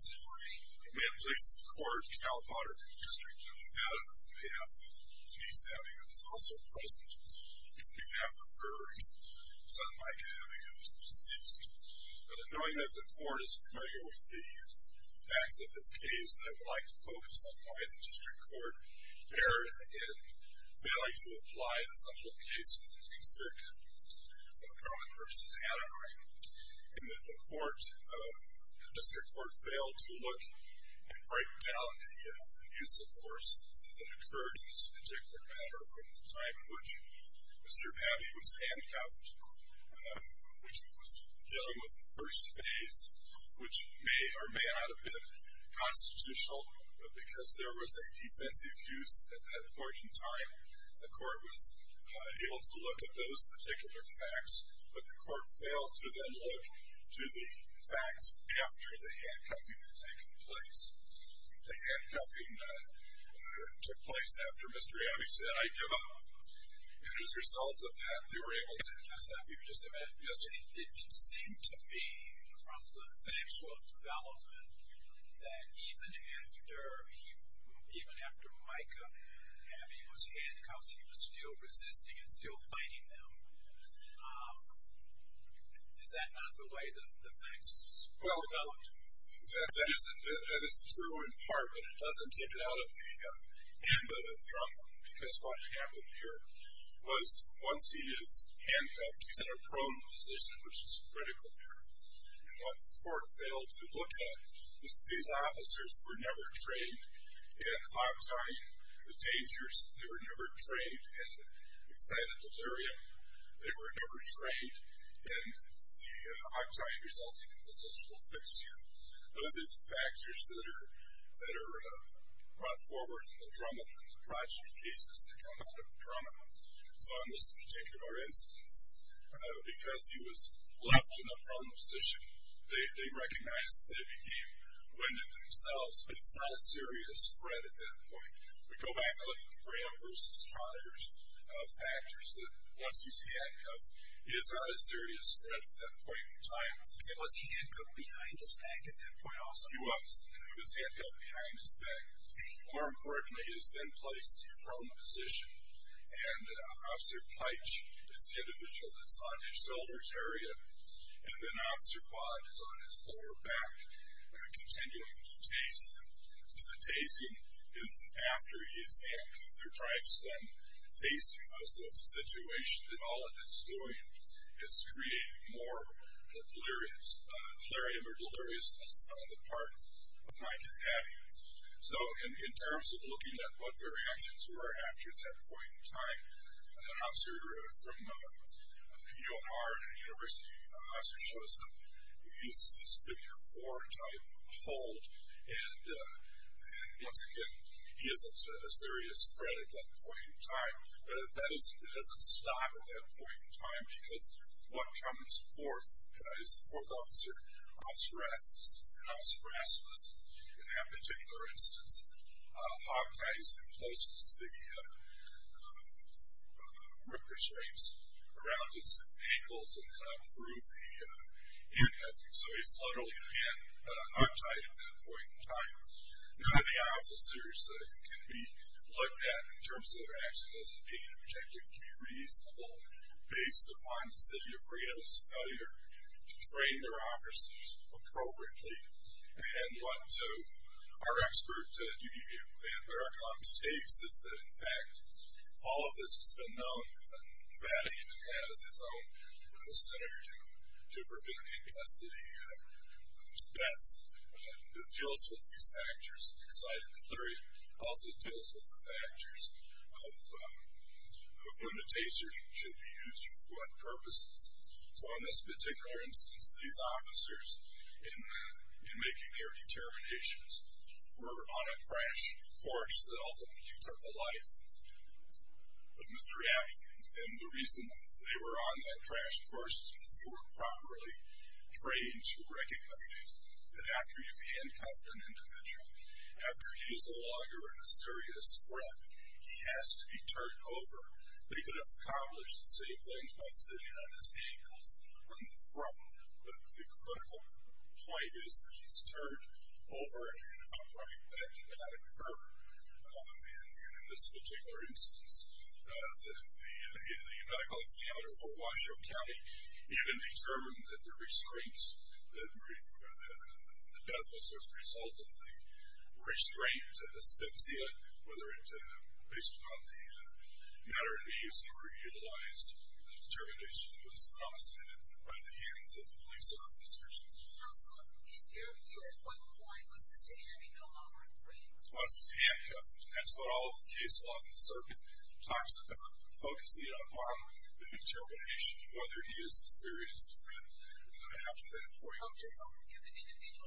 We have police in the court in the Cal Potter District. Adam, on behalf of Denise Abbey, who is also present, on behalf of Rory, son of Micah Abbey, who is deceased. Knowing that the court is familiar with the facts of this case, I would like to focus on why the District Court erred in failing to apply the subject of the case for the Queen's Circuit. Drummond v. Anaheim, in that the District Court failed to look and break down the use of force that occurred in this particular matter from the time in which Mr. Abbey was handcuffed. Which was dealing with the first phase, which may or may not have been constitutional, but because there was a defensive use at that point in time, the court was able to look at those particular facts, but the court failed to then look to the facts after the handcuffing had taken place. The handcuffing took place after Mr. Abbey said, I give up. And as a result of that, they were able to... Can I stop you for just a minute? Yes, sir. It seemed to me, from the factual development, that even after Micah Abbey was handcuffed, he was still resisting and still fighting them. Is that not the way the facts point? That is true in part, but it doesn't take it out of the hand of Drummond, because what happened here was once he is handcuffed, he's in a prone position, which is critical here. Once the court failed to look at, these officers were never trained in octine. The dangers, they were never trained in excited delirium. They were never trained in the octine resulting in this will fix you. Those are the factors that are brought forward in the Drummond and the progeny cases that come out of Drummond. So in this particular instance, because he was left in a prone position, they recognized that they became winded themselves, but it's not a serious threat at that point. We go back and look at Graham versus Potter's factors that once he's handcuffed, it is not a serious threat at that point in time. Was he handcuffed behind his back at that point also? He was. He was handcuffed behind his back. More importantly, he was then placed in a prone position, and Officer Peitsch is the individual that's on his shoulders area, and then Officer Quad is on his lower back, continuing to tase him. So the tasing is after he is handcuffed. They're trying to extend tasing. So the situation that all of this is doing is creating more delirious, delirium or deliriousness on the part of Mike and Abby. So in terms of looking at what their reactions were after that point in time, an officer from UMR, a university officer, shows a stick-your-fore-type hold, and once again, he isn't a serious threat at that point in time. But it doesn't stop at that point in time, because what comes forth is the fourth officer, Officer Rasmus, and Officer Rasmus, in that particular instance, hogties and closes the ripper shapes around his ankles and up through the hip. So he's literally a hand hogtied at that point in time. Now the officers can be looked at in terms of their action as being objectively reasonable, based upon the City of Reno's failure to train their officers appropriately. And what our expert at UDVM, Dan Barakam, states is that in fact, all of this has been known and valued as its own center to prevent incastity deaths. It deals with these factors. Excited delirium also deals with the factors of when the taser should be used for what purposes. So in this particular instance, these officers, in making their determinations, were on a crash course that ultimately took the life of Mr. Abbey. And the reason they were on that crash course is because they weren't properly trained to recognize that after you've handcuffed an individual, after he is no longer a serious threat, he has to be turned over. They could have accomplished the same thing by sitting on his ankles on the front, but the critical point is that he's turned over in an upright, pragmatic curve. And in this particular instance, the Medical Examiner for Washoe County even determined that the death was the result of the restraint, whether it was based upon the matter of needs that were utilized, the determination was not submitted by the hands of the police officers. Mr. Abbey was no longer a threat. That's what all of the case law in the circuit talks about, focusing it upon the determination of whether he is a serious threat. Okay, so if an individual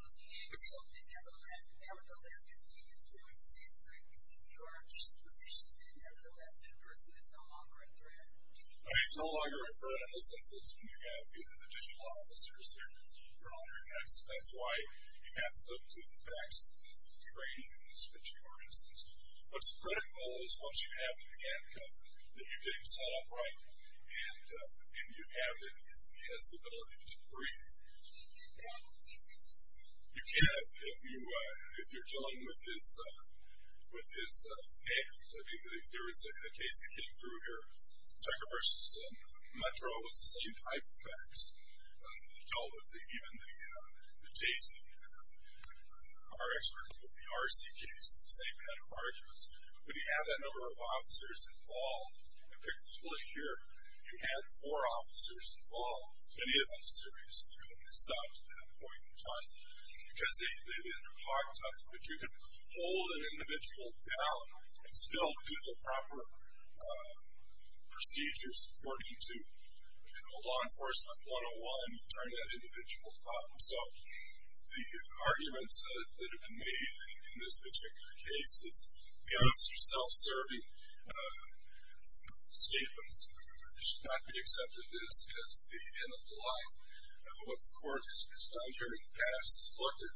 is being held and nevertheless continues to resist, is it your position that nevertheless that person is no longer a threat? No, he's no longer a threat in the sense that it's when you have additional officers that are on your necks. That's why you have to look to the facts of the training in this particular instance. What's critical is once you have him handcuffed, that you get him set up right and you have him, he has the ability to breathe. Can he do that if he's resisting? You can if you're dealing with his ankles. I think there was a case that came through here. Tucker versus Metro was the same type of facts that dealt with even the chasing. Our expert looked at the RC case, the same kind of arguments. When you have that number of officers involved, you pick the split here, you add four officers involved, then he isn't a serious threat. He stops at that point in time. Because they didn't talk to him. But you can hold an individual down and still do the proper procedures according to law enforcement 101. You turn that individual up. The arguments that have been made in this particular case is the officer self-serving statements should not be accepted as the end of the line. What the court has done here in the past is looked at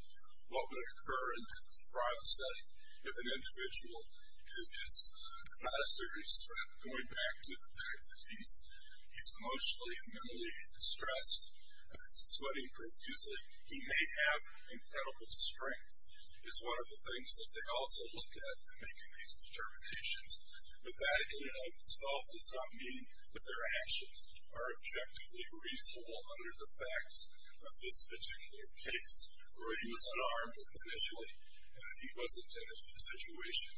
what would occur in a trial setting if an individual is not a serious threat. Going back to the fact that he's emotionally and mentally distressed, sweating profusely. He may have incredible strength is one of the things that they also look at in making these determinations. But that in and of itself does not mean that their actions are objectively reasonable under the facts of this particular case. He was unarmed initially. He wasn't in a situation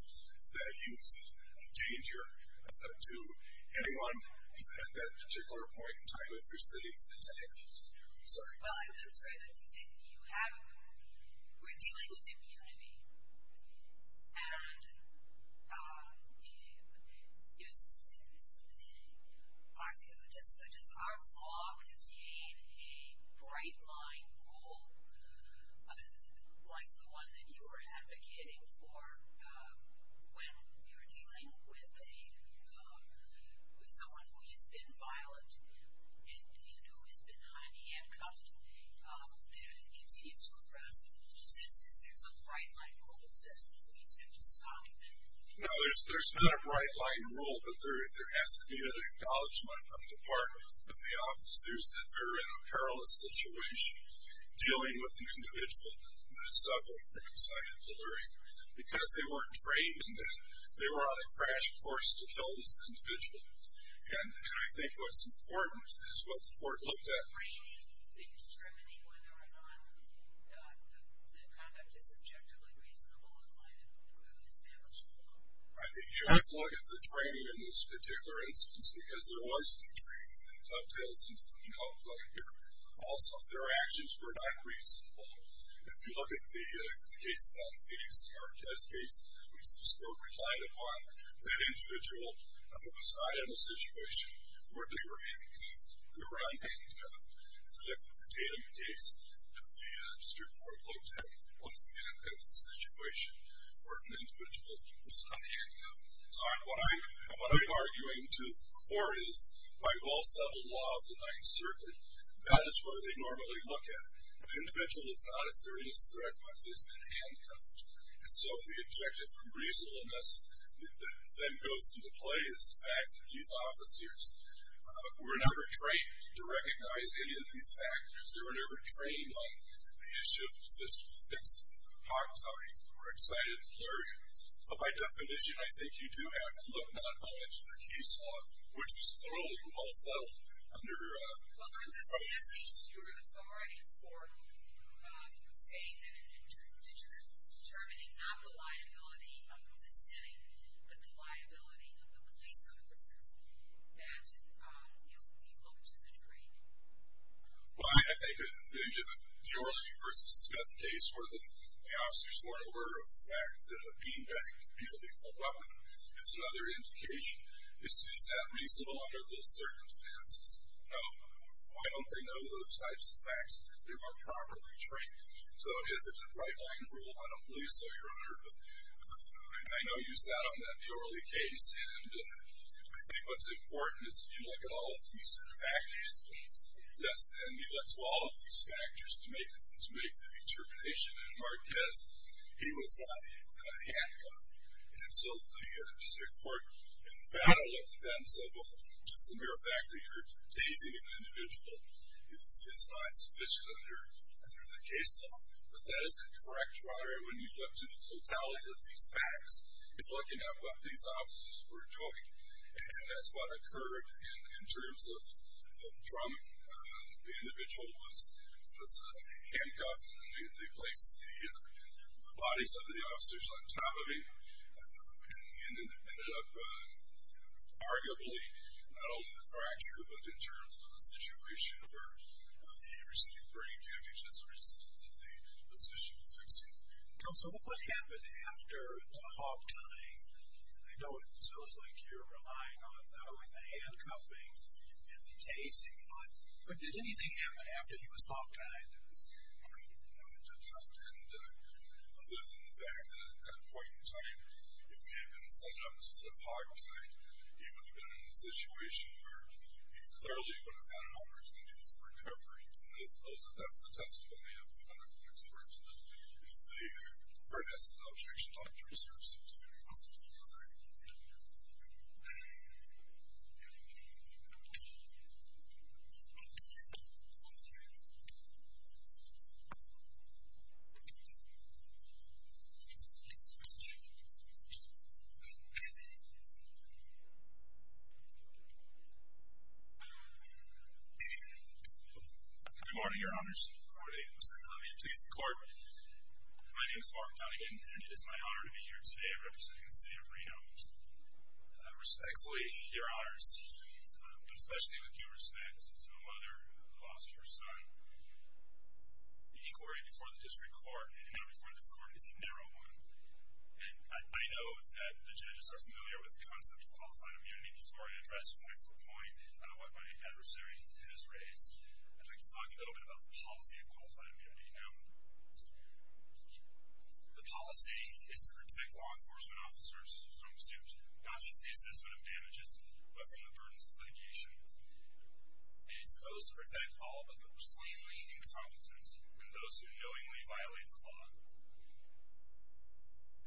that he was a danger to anyone at that particular point in time. If you're sitting in this case. Sorry. Well, I'm sorry that you haven't. We're dealing with immunity. And just our law contained a bright line rule like the one that you were advocating for when you were dealing with someone who has been violent. And who has been handcuffed and continues to arrest and resist. Is there some bright line rule that says please have to stop him? No, there's not a bright line rule, but there has to be an acknowledgement on the part of the officers that they're in a perilous situation dealing with an individual that is suffering from anxiety and delirium. Because they weren't trained in that. They were on a crash course to kill this individual. And I think what's important is what the court looked at. They were trained in discriminating whether or not the conduct is objectively reasonable in light of the established law. I think you have to look at the training in this particular instance because there was no training in tough tales and free hugs out here. Also, their actions were not reasonable. If you look at the cases out of Phoenix, the Marquez case, we relied upon that individual was not in a situation where they were handcuffed. They were unhandcuffed. If you look at the Tatum case that the district court looked at, once again, that was a situation where an individual was unhandcuffed. So what I'm arguing to the court is by well settled law of the Ninth Circuit, that is where they normally look at it. It's not a serious threat once it's been handcuffed. And so the objective from reasonableness that then goes into play is the fact that these officers were never trained to recognize any of these factors. They were never trained on the issue of system fixing. We're excited and delirious. So by definition, I think you do have to look not only to the case law, which is clearly well settled. Well, aren't those cases your authority for saying that and determining not the liability of the city, but the liability of the police officers that we look to the training? Well, I think the Orley v. Smith case where the officers weren't aware of the fact that a bean bag could easily fall out with them is another indication. It's happening under those circumstances. Now, why don't they know those types of facts? They weren't properly trained. So it isn't a bright-line rule, I don't believe so, Your Honor. But I know you sat on that in the Orley case. And I think what's important is that you look at all of these factors. Yes, and you look to all of these factors to make the determination that Marquez, he was not handcuffed. And so the district court in Nevada looked at that and said, Well, just the mere fact that you're tasing an individual is not sufficient under the case law. But that isn't correct, Your Honor. When you look to the totality of these facts, you're looking at what these officers were doing. And that's what occurred in terms of the trauma. The individual was handcuffed. They placed the bodies of the officers on top of him. And it ended up arguably not only the fracture, but in terms of the situation where he received brain damage as a result of the position fixing. So what happened after the hog tying? I know it sounds like you're relying on the handcuffing and the tasing. But did anything happen after he was hog tied? No, it did not. And other than the fact that at that point in time, if he had been sent up to the hog tie, he would have been in a situation where he clearly would have had an opportunity for recovery. And that's the testimony of the medical experts. The court has an objection. Dr. Reserves. Good morning, Your Honors. Good morning. Let me please the court. My name is Mark Donegan, and it is my honor to be here today representing the city of Reno. Respectfully, Your Honors, but especially with due respect to a mother who lost her son, the inquiry before the district court and now before this court is a narrow one. And I know that the judges are familiar with the concept of qualified immunity before I address point for point what my adversary has raised. I'd like to talk a little bit about the policy of qualified immunity. Now, the policy is to protect law enforcement officers from suit, not just the assessment of damages, but from the burdens of litigation. And it's supposed to protect all but those lamely incompetent and those who knowingly violate the law.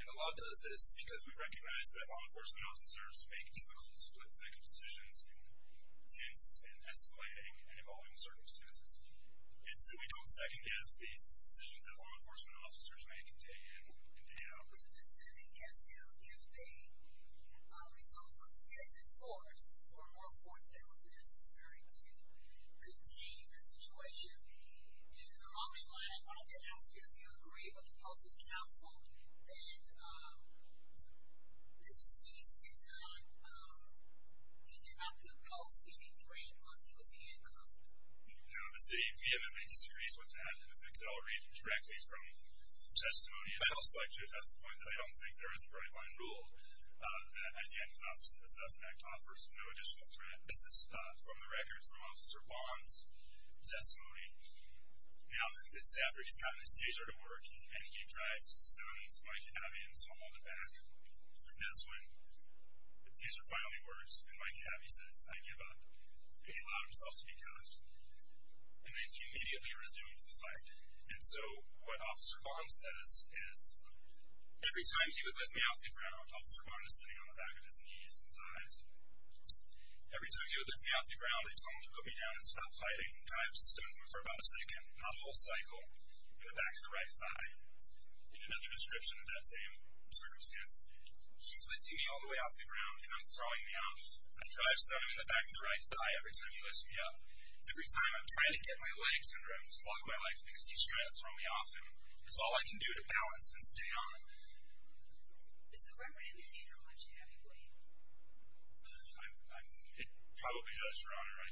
And the law does this because we recognize that law enforcement officers make difficult, split second decisions in tense and escalating and evolving circumstances. And so we don't second guess these decisions that law enforcement officers make day in and day out. We do second guess them if they result from excessive force or more force than was necessary to contain the situation. In the long run, I wanted to ask you if you agree with the policy council that the deceased did not compose any dredge once he was handcuffed. No, the city of Vietnam disagrees with that. In fact, I'll read directly from testimony in the House of Electors. That's the point. I don't think there is a very fine rule that at the end of an assessment act offers no additional threat. This is from the records from Officer Bond's testimony. Now, this is after he's gotten his teaser to work and he drives Stone to Mikey Abbey and his home on the back. And that's when the teaser finally works and Mikey Abbey says, I give up, and he allowed himself to be cuffed. And then he immediately resumed the fight. And so what Officer Bond says is, every time he would lift me off the ground, Officer Bond is sitting on the back of his knees and thighs. Every time he would lift me off the ground, he told him to put me down and stop fighting and drive Stone for about a second, not a whole cycle, in the back of the right thigh. In another description of that same circumstance, he's lifting me all the way off the ground and I'm throwing me off. And he drives Stone in the back of the right thigh every time he lifts me up. Every time I'm trying to get my legs under him to walk my legs because he's trying to throw me off him. It's all I can do to balance and stay on. Does the record indicate how much heavy weight? It probably does, Your Honor. I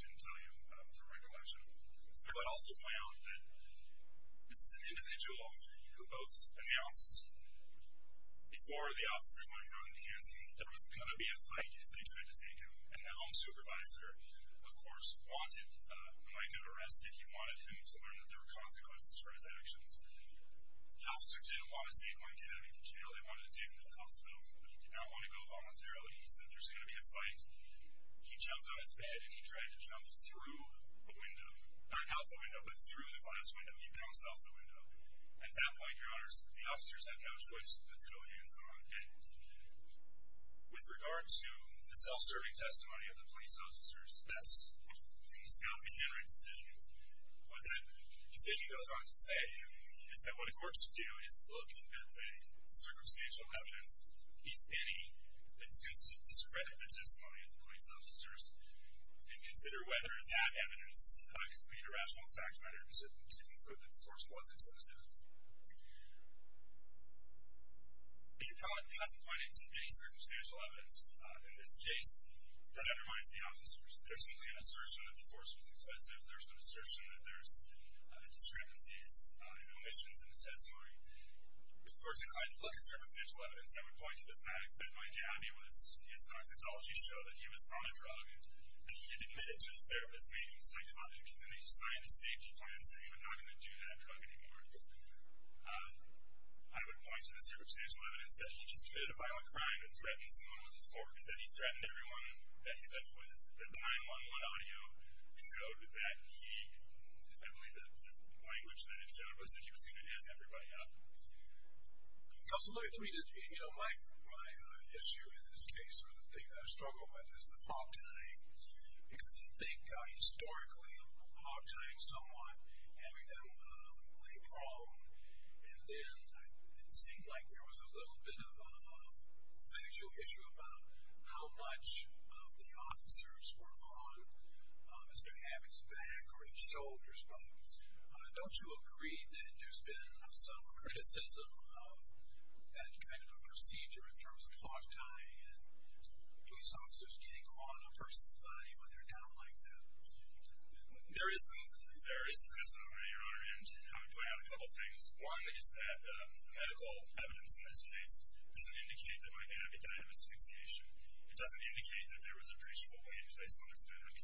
shouldn't tell you from recollection. I would also point out that this is an individual who both announced before the officers on the ground began saying that there was going to be a fight if they tried to take him. And the home supervisor, of course, wanted Mikey to rest and he wanted him to learn that there were consequences for his actions. The officers didn't want to take Mikey to jail. They wanted to take him to the hospital, but he did not want to go voluntarily. He said there's going to be a fight. He jumped on his bed and he tried to jump through a window. Not out the window, but through the glass window. He bounced off the window. At that point, Your Honors, the officers have no choice but to go hands-on. And with regard to the self-serving testimony of the police officers, that's not a generic decision. What that decision goes on to say is that what the courts do is look at the circumstantial evidence, if any, that seems to discredit the testimony of the police officers and consider whether that evidence could be a rational fact matter to conclude that the force was excessive. The appellate hasn't pointed to any circumstantial evidence in this case that undermines the officers. There's simply an assertion that the force was excessive. There's an assertion that there's discrepancies, omissions in the testimony. With regard to client's look at circumstantial evidence, I would point to the fact that Mike Abbey, his toxicology show that he was on a drug and he had admitted to his therapist making psychotic, and then they decided to safety plan, saying we're not going to do that drug anymore. I would point to the circumstantial evidence that he just committed a violent crime and threatened someone with a fork, that he threatened everyone that he left with, so that he, I believe that the language that he said was that he was going to end everybody up. Absolutely. Let me just, you know, my issue in this case or the thing that I struggle with is the hog tying, because I think historically hog tying someone, having them lay prone, and then it seemed like there was a little bit of a factual issue about how much of the officers were on Mr. Abbey's back or his shoulders, but don't you agree that there's been some criticism of that kind of a procedure in terms of hog tying and police officers getting on a person's body when they're down like that? There is some criticism of it, Your Honor, and I would point out a couple things. One is that the medical evidence in this case doesn't indicate that Mike Abbey died of asphyxiation. It doesn't indicate that there was a appreciable way to place him on his back.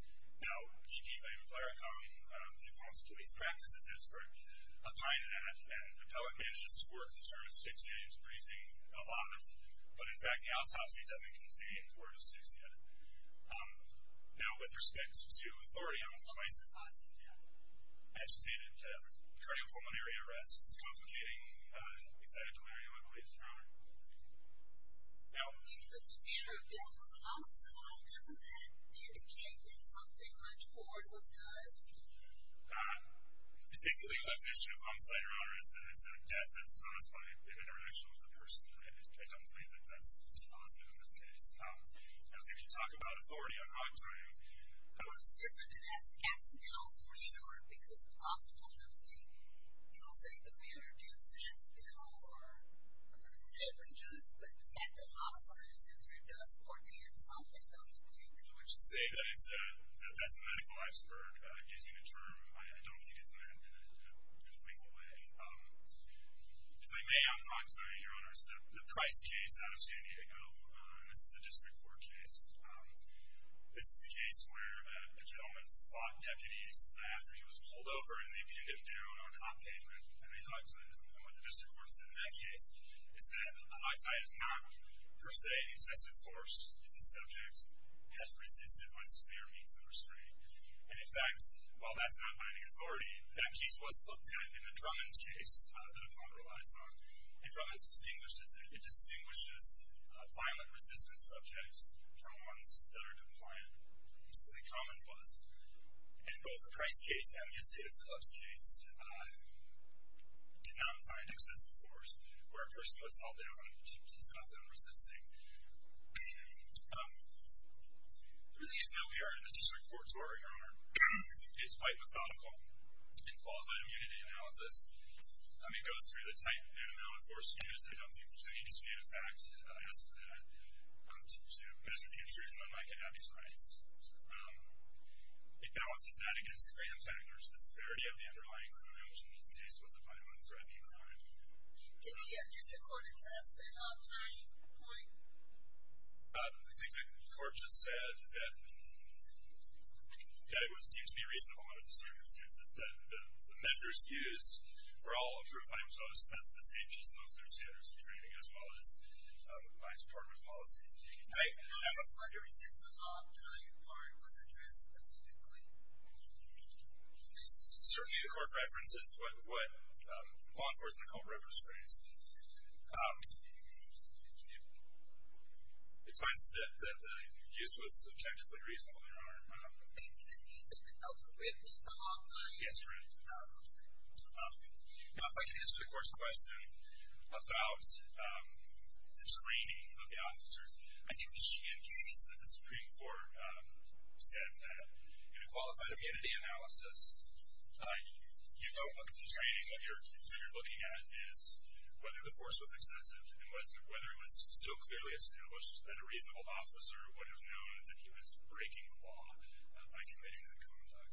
Now, G.P. Flayman-Plaracombe, New Paltz Police Practices expert, opined that and appellate managers' work in terms of asphyxiation is appreciating a lot, but in fact the autopsy doesn't contain word of asphyxia. Now, with respect to authority on employees, I should say that cardiopulmonary arrests, this is a complicating, excited delirium, I believe, Your Honor. No? If the manner of death was homicide, doesn't that indicate that something much more was done? I think the definition of homicide, Your Honor, is that it's a death that's caused by an interaction with a person. I don't believe that that's positive in this case. I don't think you talk about authority on hog tying. Well, it's different than as an accidental, for sure, because oftentimes you don't say the manner of death is accidental or negligence, but the fact that homicide is in there does portend something, don't you think? I would just say that that's a medical iceberg. Using the term, I don't think it's meant in a legal way. As I may, I'll talk to you, Your Honors, the Price case out of San Diego. This is a district court case. This is the case where a gentleman fought deputies after he was pulled over and they pinned him down on a pavement and they hog tied him. And what the district court said in that case is that a hog tie is not, per se, an excessive force if the subject has resisted by severe means of restraint. And, in fact, while that's not binding authority, that case was looked at in the Drummond case that a client relies on. And Drummond distinguishes violent, resistant subjects from ones that are compliant, as I think Drummond was. And both the Price case and the Estada Phillips case did not find excessive force where a person was held down on a beach. He's not then resisting. The reason that we are in the district court, Your Honor, is quite methodical. In qualified immunity analysis, it goes through the type and amount of force used. I don't think there's any dispute of fact as to measure the intrusion on Mike and Abby's rights. It balances that against the graham factors, the severity of the underlying crime, which in this case was a violent, threatening crime. Did the district court address the hog tying point? I think the court just said that it was deemed to be reasonable under the circumstances that the measures used were all approved by themselves. That's the same just as their standards of training as well as my department's policies. I'm just wondering if the hog tying part was addressed specifically. Certainly the court references what law enforcement code represents. It finds that the use was subjectively reasonable, Your Honor. And can you say the alphabet is the hog tying? Yes, Your Honor. Now, if I can answer the court's question about the training of the officers. I think the Sheehan case, the Supreme Court said that in a qualified immunity analysis, you don't look at the training. What you're looking at is whether the force was excessive and whether it was so clearly established that a reasonable officer would have known that he was breaking the law by committing the conduct.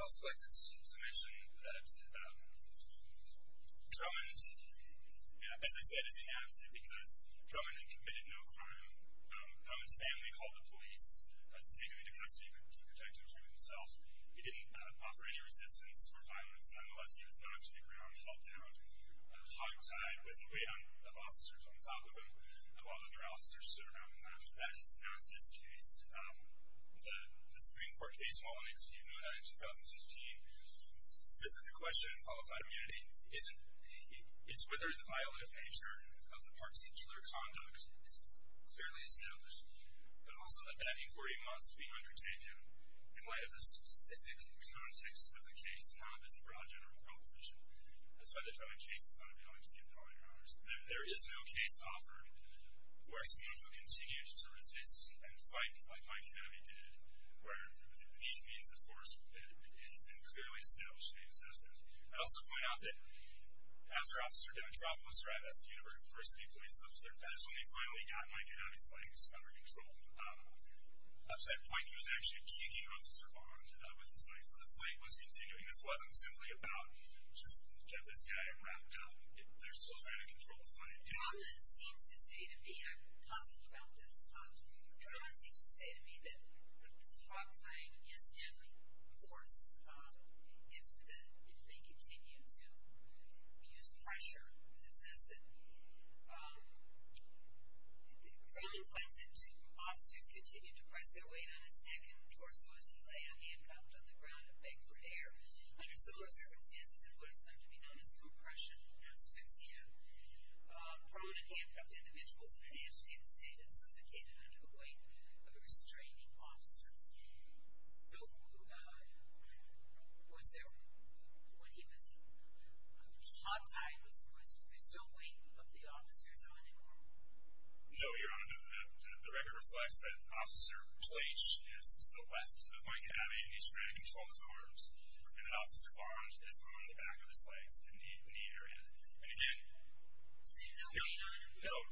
I'll select a summation that Drummond, as I said, is inadequate because Drummond had committed no crime. Drummond's family called the police to take him into custody to protect him from himself. He didn't offer any resistance or violence. Nonetheless, he was knocked to the ground, held down, hog tied with a wave of officers on top of him. A lot of other officers stood around and laughed. That is not this case. The Supreme Court case, while in its view, noted in 2015, says that the question of qualified immunity is whether the violative nature of the particular conduct is clearly established, but also that that inquiry must be undertaken in light of the specific context of the case, not as a broad general proposition. That's why the Drummond case is not available to the appellate powers. There is no case offered where someone who continues to resist and fight like Mike Abbey did, where he means the force and clearly established the existence. I'd also point out that after Officer Dimitropoulos arrived as a university police officer, that is when they finally got Mike Abbey's legs under control. Up to that point, he was actually kicking Officer Bond with his legs, so the fight was continuing. This wasn't simply about, just get this guy and wrap it up. They're still trying to control the fight. Drummond seems to say to me, and I'm positive about this, Drummond seems to say to me that this hotline is deadly force if they continue to use pressure. It says that Drummond claims that two officers continue to press their weight on his neck and torso as he lay handcuffed on the ground and begged for air. Under similar circumstances in what has come to be known as compression asphyxia, prone and handcuffed individuals in an agitated state have suffocated under the weight of the restraining officers. Was there, when he was hot tied, was there still weight of the officers on him? No, Your Honor. The record reflects that Officer Plaitsch is to the west of Mike Abbey and he's trying to control his arms, and Officer Bond is on the back of his legs in the knee area. And again, no, no, no.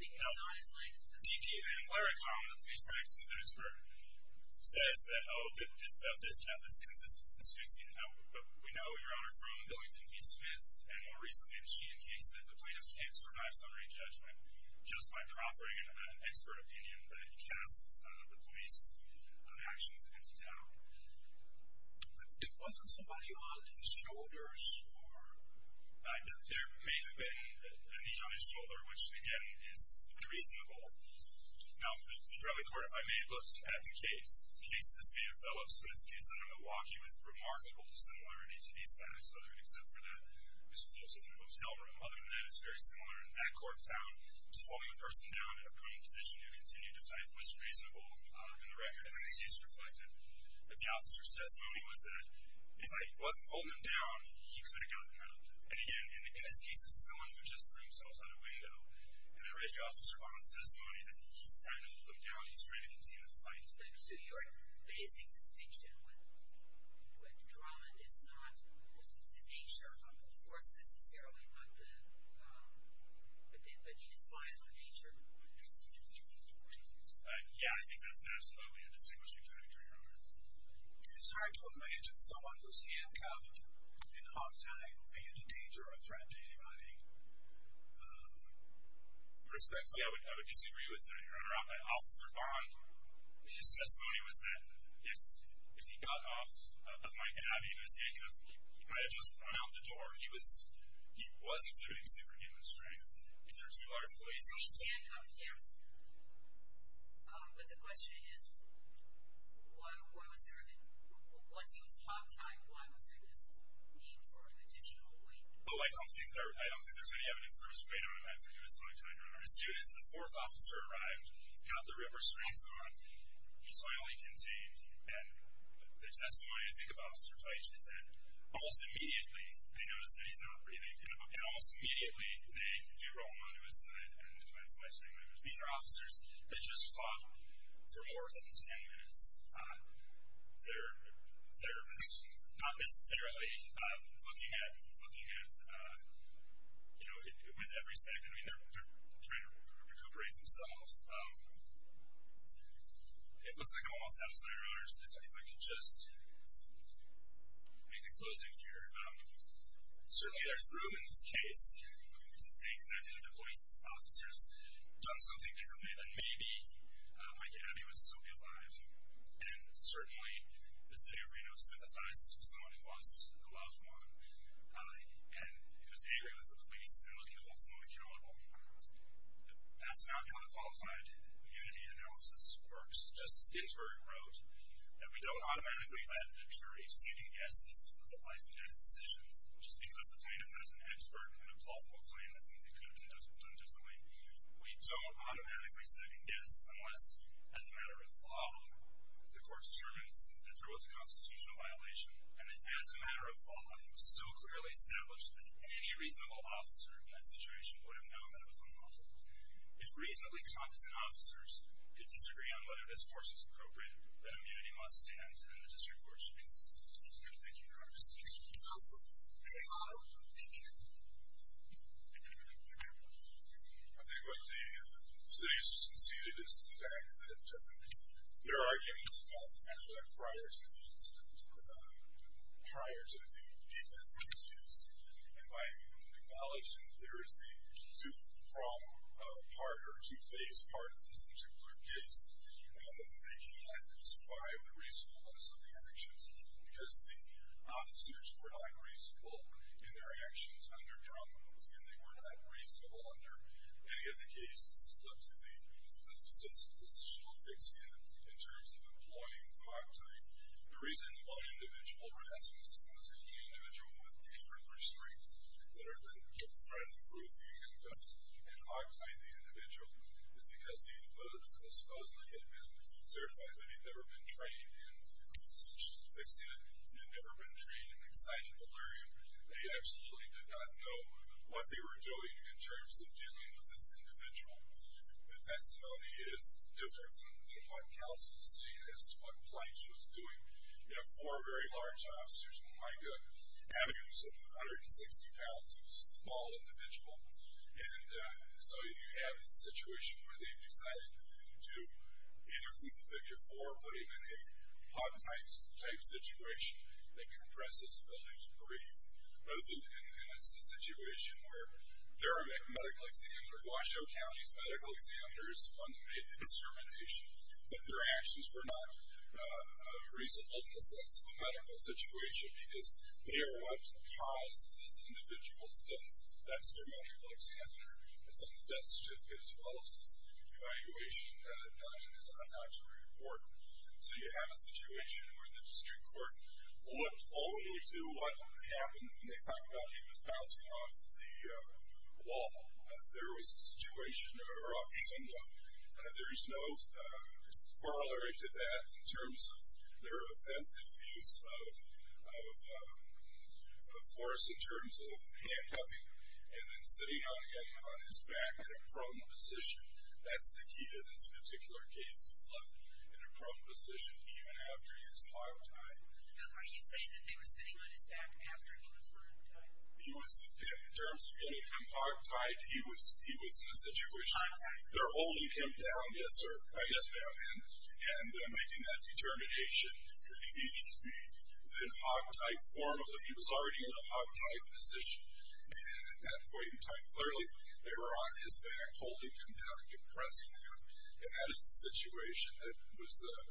D.P. Van Blarek, the police practices expert, says that, oh, this death is consistent with asphyxia. Now, we know, Your Honor, from Billings and V. Smith and more recently the Sheehan case, that the plaintiff can't survive summary judgment just by proffering an expert opinion that casts the police actions into doubt. But wasn't somebody on his shoulders? There may have been a knee on his shoulder, which, again, is reasonable. Now, the drug court, if I may, looks at the case, the case of the state of Phillips, and it's a case under Milwaukee with remarkable similarity to these facts, except for that it was closest to a hotel room. Other than that, it's very similar. And that court found holding a person down in a prone position who continued to fight was reasonable in the record, and then the case reflected that the officer's testimony was that if I wasn't holding him down, he could have gotten up. And again, in this case, it's someone who just threw himself out a window, and I read the officer on his testimony that he's trying to hold him down, he's trying to continue to fight. So you're placing distinction with drama is not the nature of the force necessarily, but his violent nature, right? Yeah, I think that's absolutely a distinguishing factor, Your Honor. It's hard to imagine someone who's handcuffed in a hotel being a danger or a threat to anybody. Perspectively, I would disagree with that, Your Honor. Officer Bond, his testimony was that if he got off of my cabin, he was handcuffed, he might have just run out the door. He was exhibiting superhuman strength. These are two large places. But the question is, once he was hot tied, why was there this need for additional weight? Oh, I don't think there's any evidence that was laid on him after he was hot tied, Your Honor. As soon as the fourth officer arrived, got the ripper strings on, he was finally contained. And the testimony I think of, Officer Peich, is that almost immediately, they noticed that he's not breathing. And almost immediately, they do roll him onto his side and the twice in my statement. These are officers that just fought for more than 10 minutes. They're not necessarily looking at, you know, with every second. I mean, they're trying to recuperate themselves. It looks like I'm almost out of time, Your Honor. If I could just make a closing here. Certainly, there's room in this case to think that if the police officers had done something differently, then maybe Mike and Abby would still be alive. And certainly, the city of Reno sympathizes with someone who lost a loved one. And it was angry with the police. They're looking to hold someone accountable. That's not how a qualified immunity analysis works. Justice Ginsburg wrote that we don't automatically let the jury sit and guess this type of life and death decisions, just because the plaintiff has an expert and a plausible claim that something could have been done differently. We don't automatically sit and guess unless, as a matter of law, the court determines that there was a constitutional violation and that as a matter of law, it was so clearly established that any reasonable officer in that situation would have known that it was unlawful. If reasonably competent officers could disagree on whether this force was appropriate, then immunity must stand to the district court. Thank you, Your Honor. Thank you. Counsel? Thank you. I think what the city has just conceded is the fact that there are arguments about the matter prior to the incident, prior to the defense issues. And by acknowledging that there is a two-pronged part or a two-faced part of this particular case, they cannot describe the reasonableness of the actions because the officers were not reasonable in their actions under Drummond, and they were not reasonable under any of the cases that led to the positional fix-it in terms of employing the octet. The reason one individual, Rasmus, was the only individual with different restraints that are then trying to prove these incidents and octet the individual is because he supposedly had been certified, but he had never been trained in positional fix-it. He had never been trained in excited delirium. They absolutely did not know what they were doing in terms of dealing with this individual. The testimony is different than what counsel is saying as to what Blanch was doing. You have four very large officers and, my goodness, having a 160-pound small individual. And so you have a situation where they've decided to, either from the figure four, put him in a hog-type situation that compresses the ability to breathe. And it's a situation where there are medical examiners, or Washoe County's medical examiners, one that made the determination that their actions were not reasonable in the sense of a medical situation because they are what caused this individual's death. That's their medical examiner. It's on the death certificate as well as the evaluation done in his autopsy report. So you have a situation where the district court would only do what happened when they talked about him as bouncing off the wall. If there was a situation or option, there is no corollary to that in terms of their offensive use of force in terms of handcuffing him and then sitting on his back in a prone position. That's the key to this particular case. He's left in a prone position even after he was hog-type. Are you saying that they were sitting on his back after he was hog-type? He was, in terms of getting him hog-type, he was in a situation. Hog-type. They're holding him down. Yes, sir. Yes, ma'am. And making that determination that he needed to be in hog-type form even though he was already in a hog-type position. And at that point in time, clearly they were on his back, holding him down, compressing him. And that is a situation that was a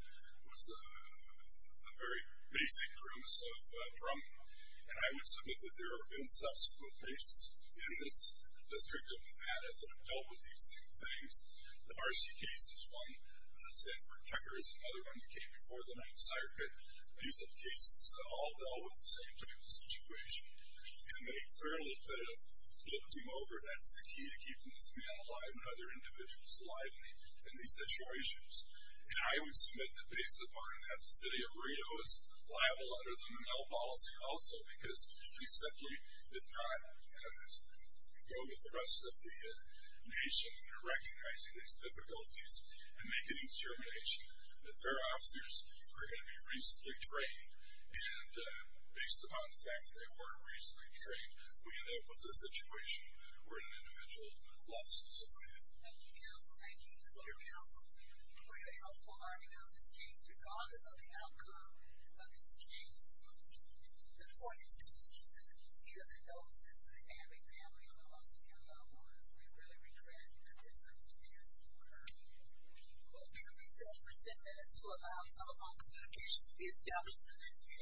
very basic premise of drumming. And I would submit that there have been subsequent cases in this district of Nevada that have dealt with these same things. The Marcy case is one. Sanford Tucker is another one that came before the 9th Circuit. These are cases that all dealt with the same type of situation. And they fairly could have flipped him over. That's the key to keeping this man alive and other individuals alive in these situations. And I would submit that based upon that, the city of Rideau is liable under the Menil policy also because he simply did not go with the rest of the nation in recognizing these difficulties and making a determination that their officers were going to be reasonably trained. And based upon the fact that they weren't reasonably trained, we end up with a situation where an individual lost his life. Thank you, counsel. Thank you. Thank you, counsel. We have a very helpful argument on this case. Regardless of the outcome of this case, the court is still insisting that you cede the doses to the Abing family on the loss of your loved ones. We really regret that this circumstance occurred. We will be on recess for 10 minutes to allow telephone communications to be established.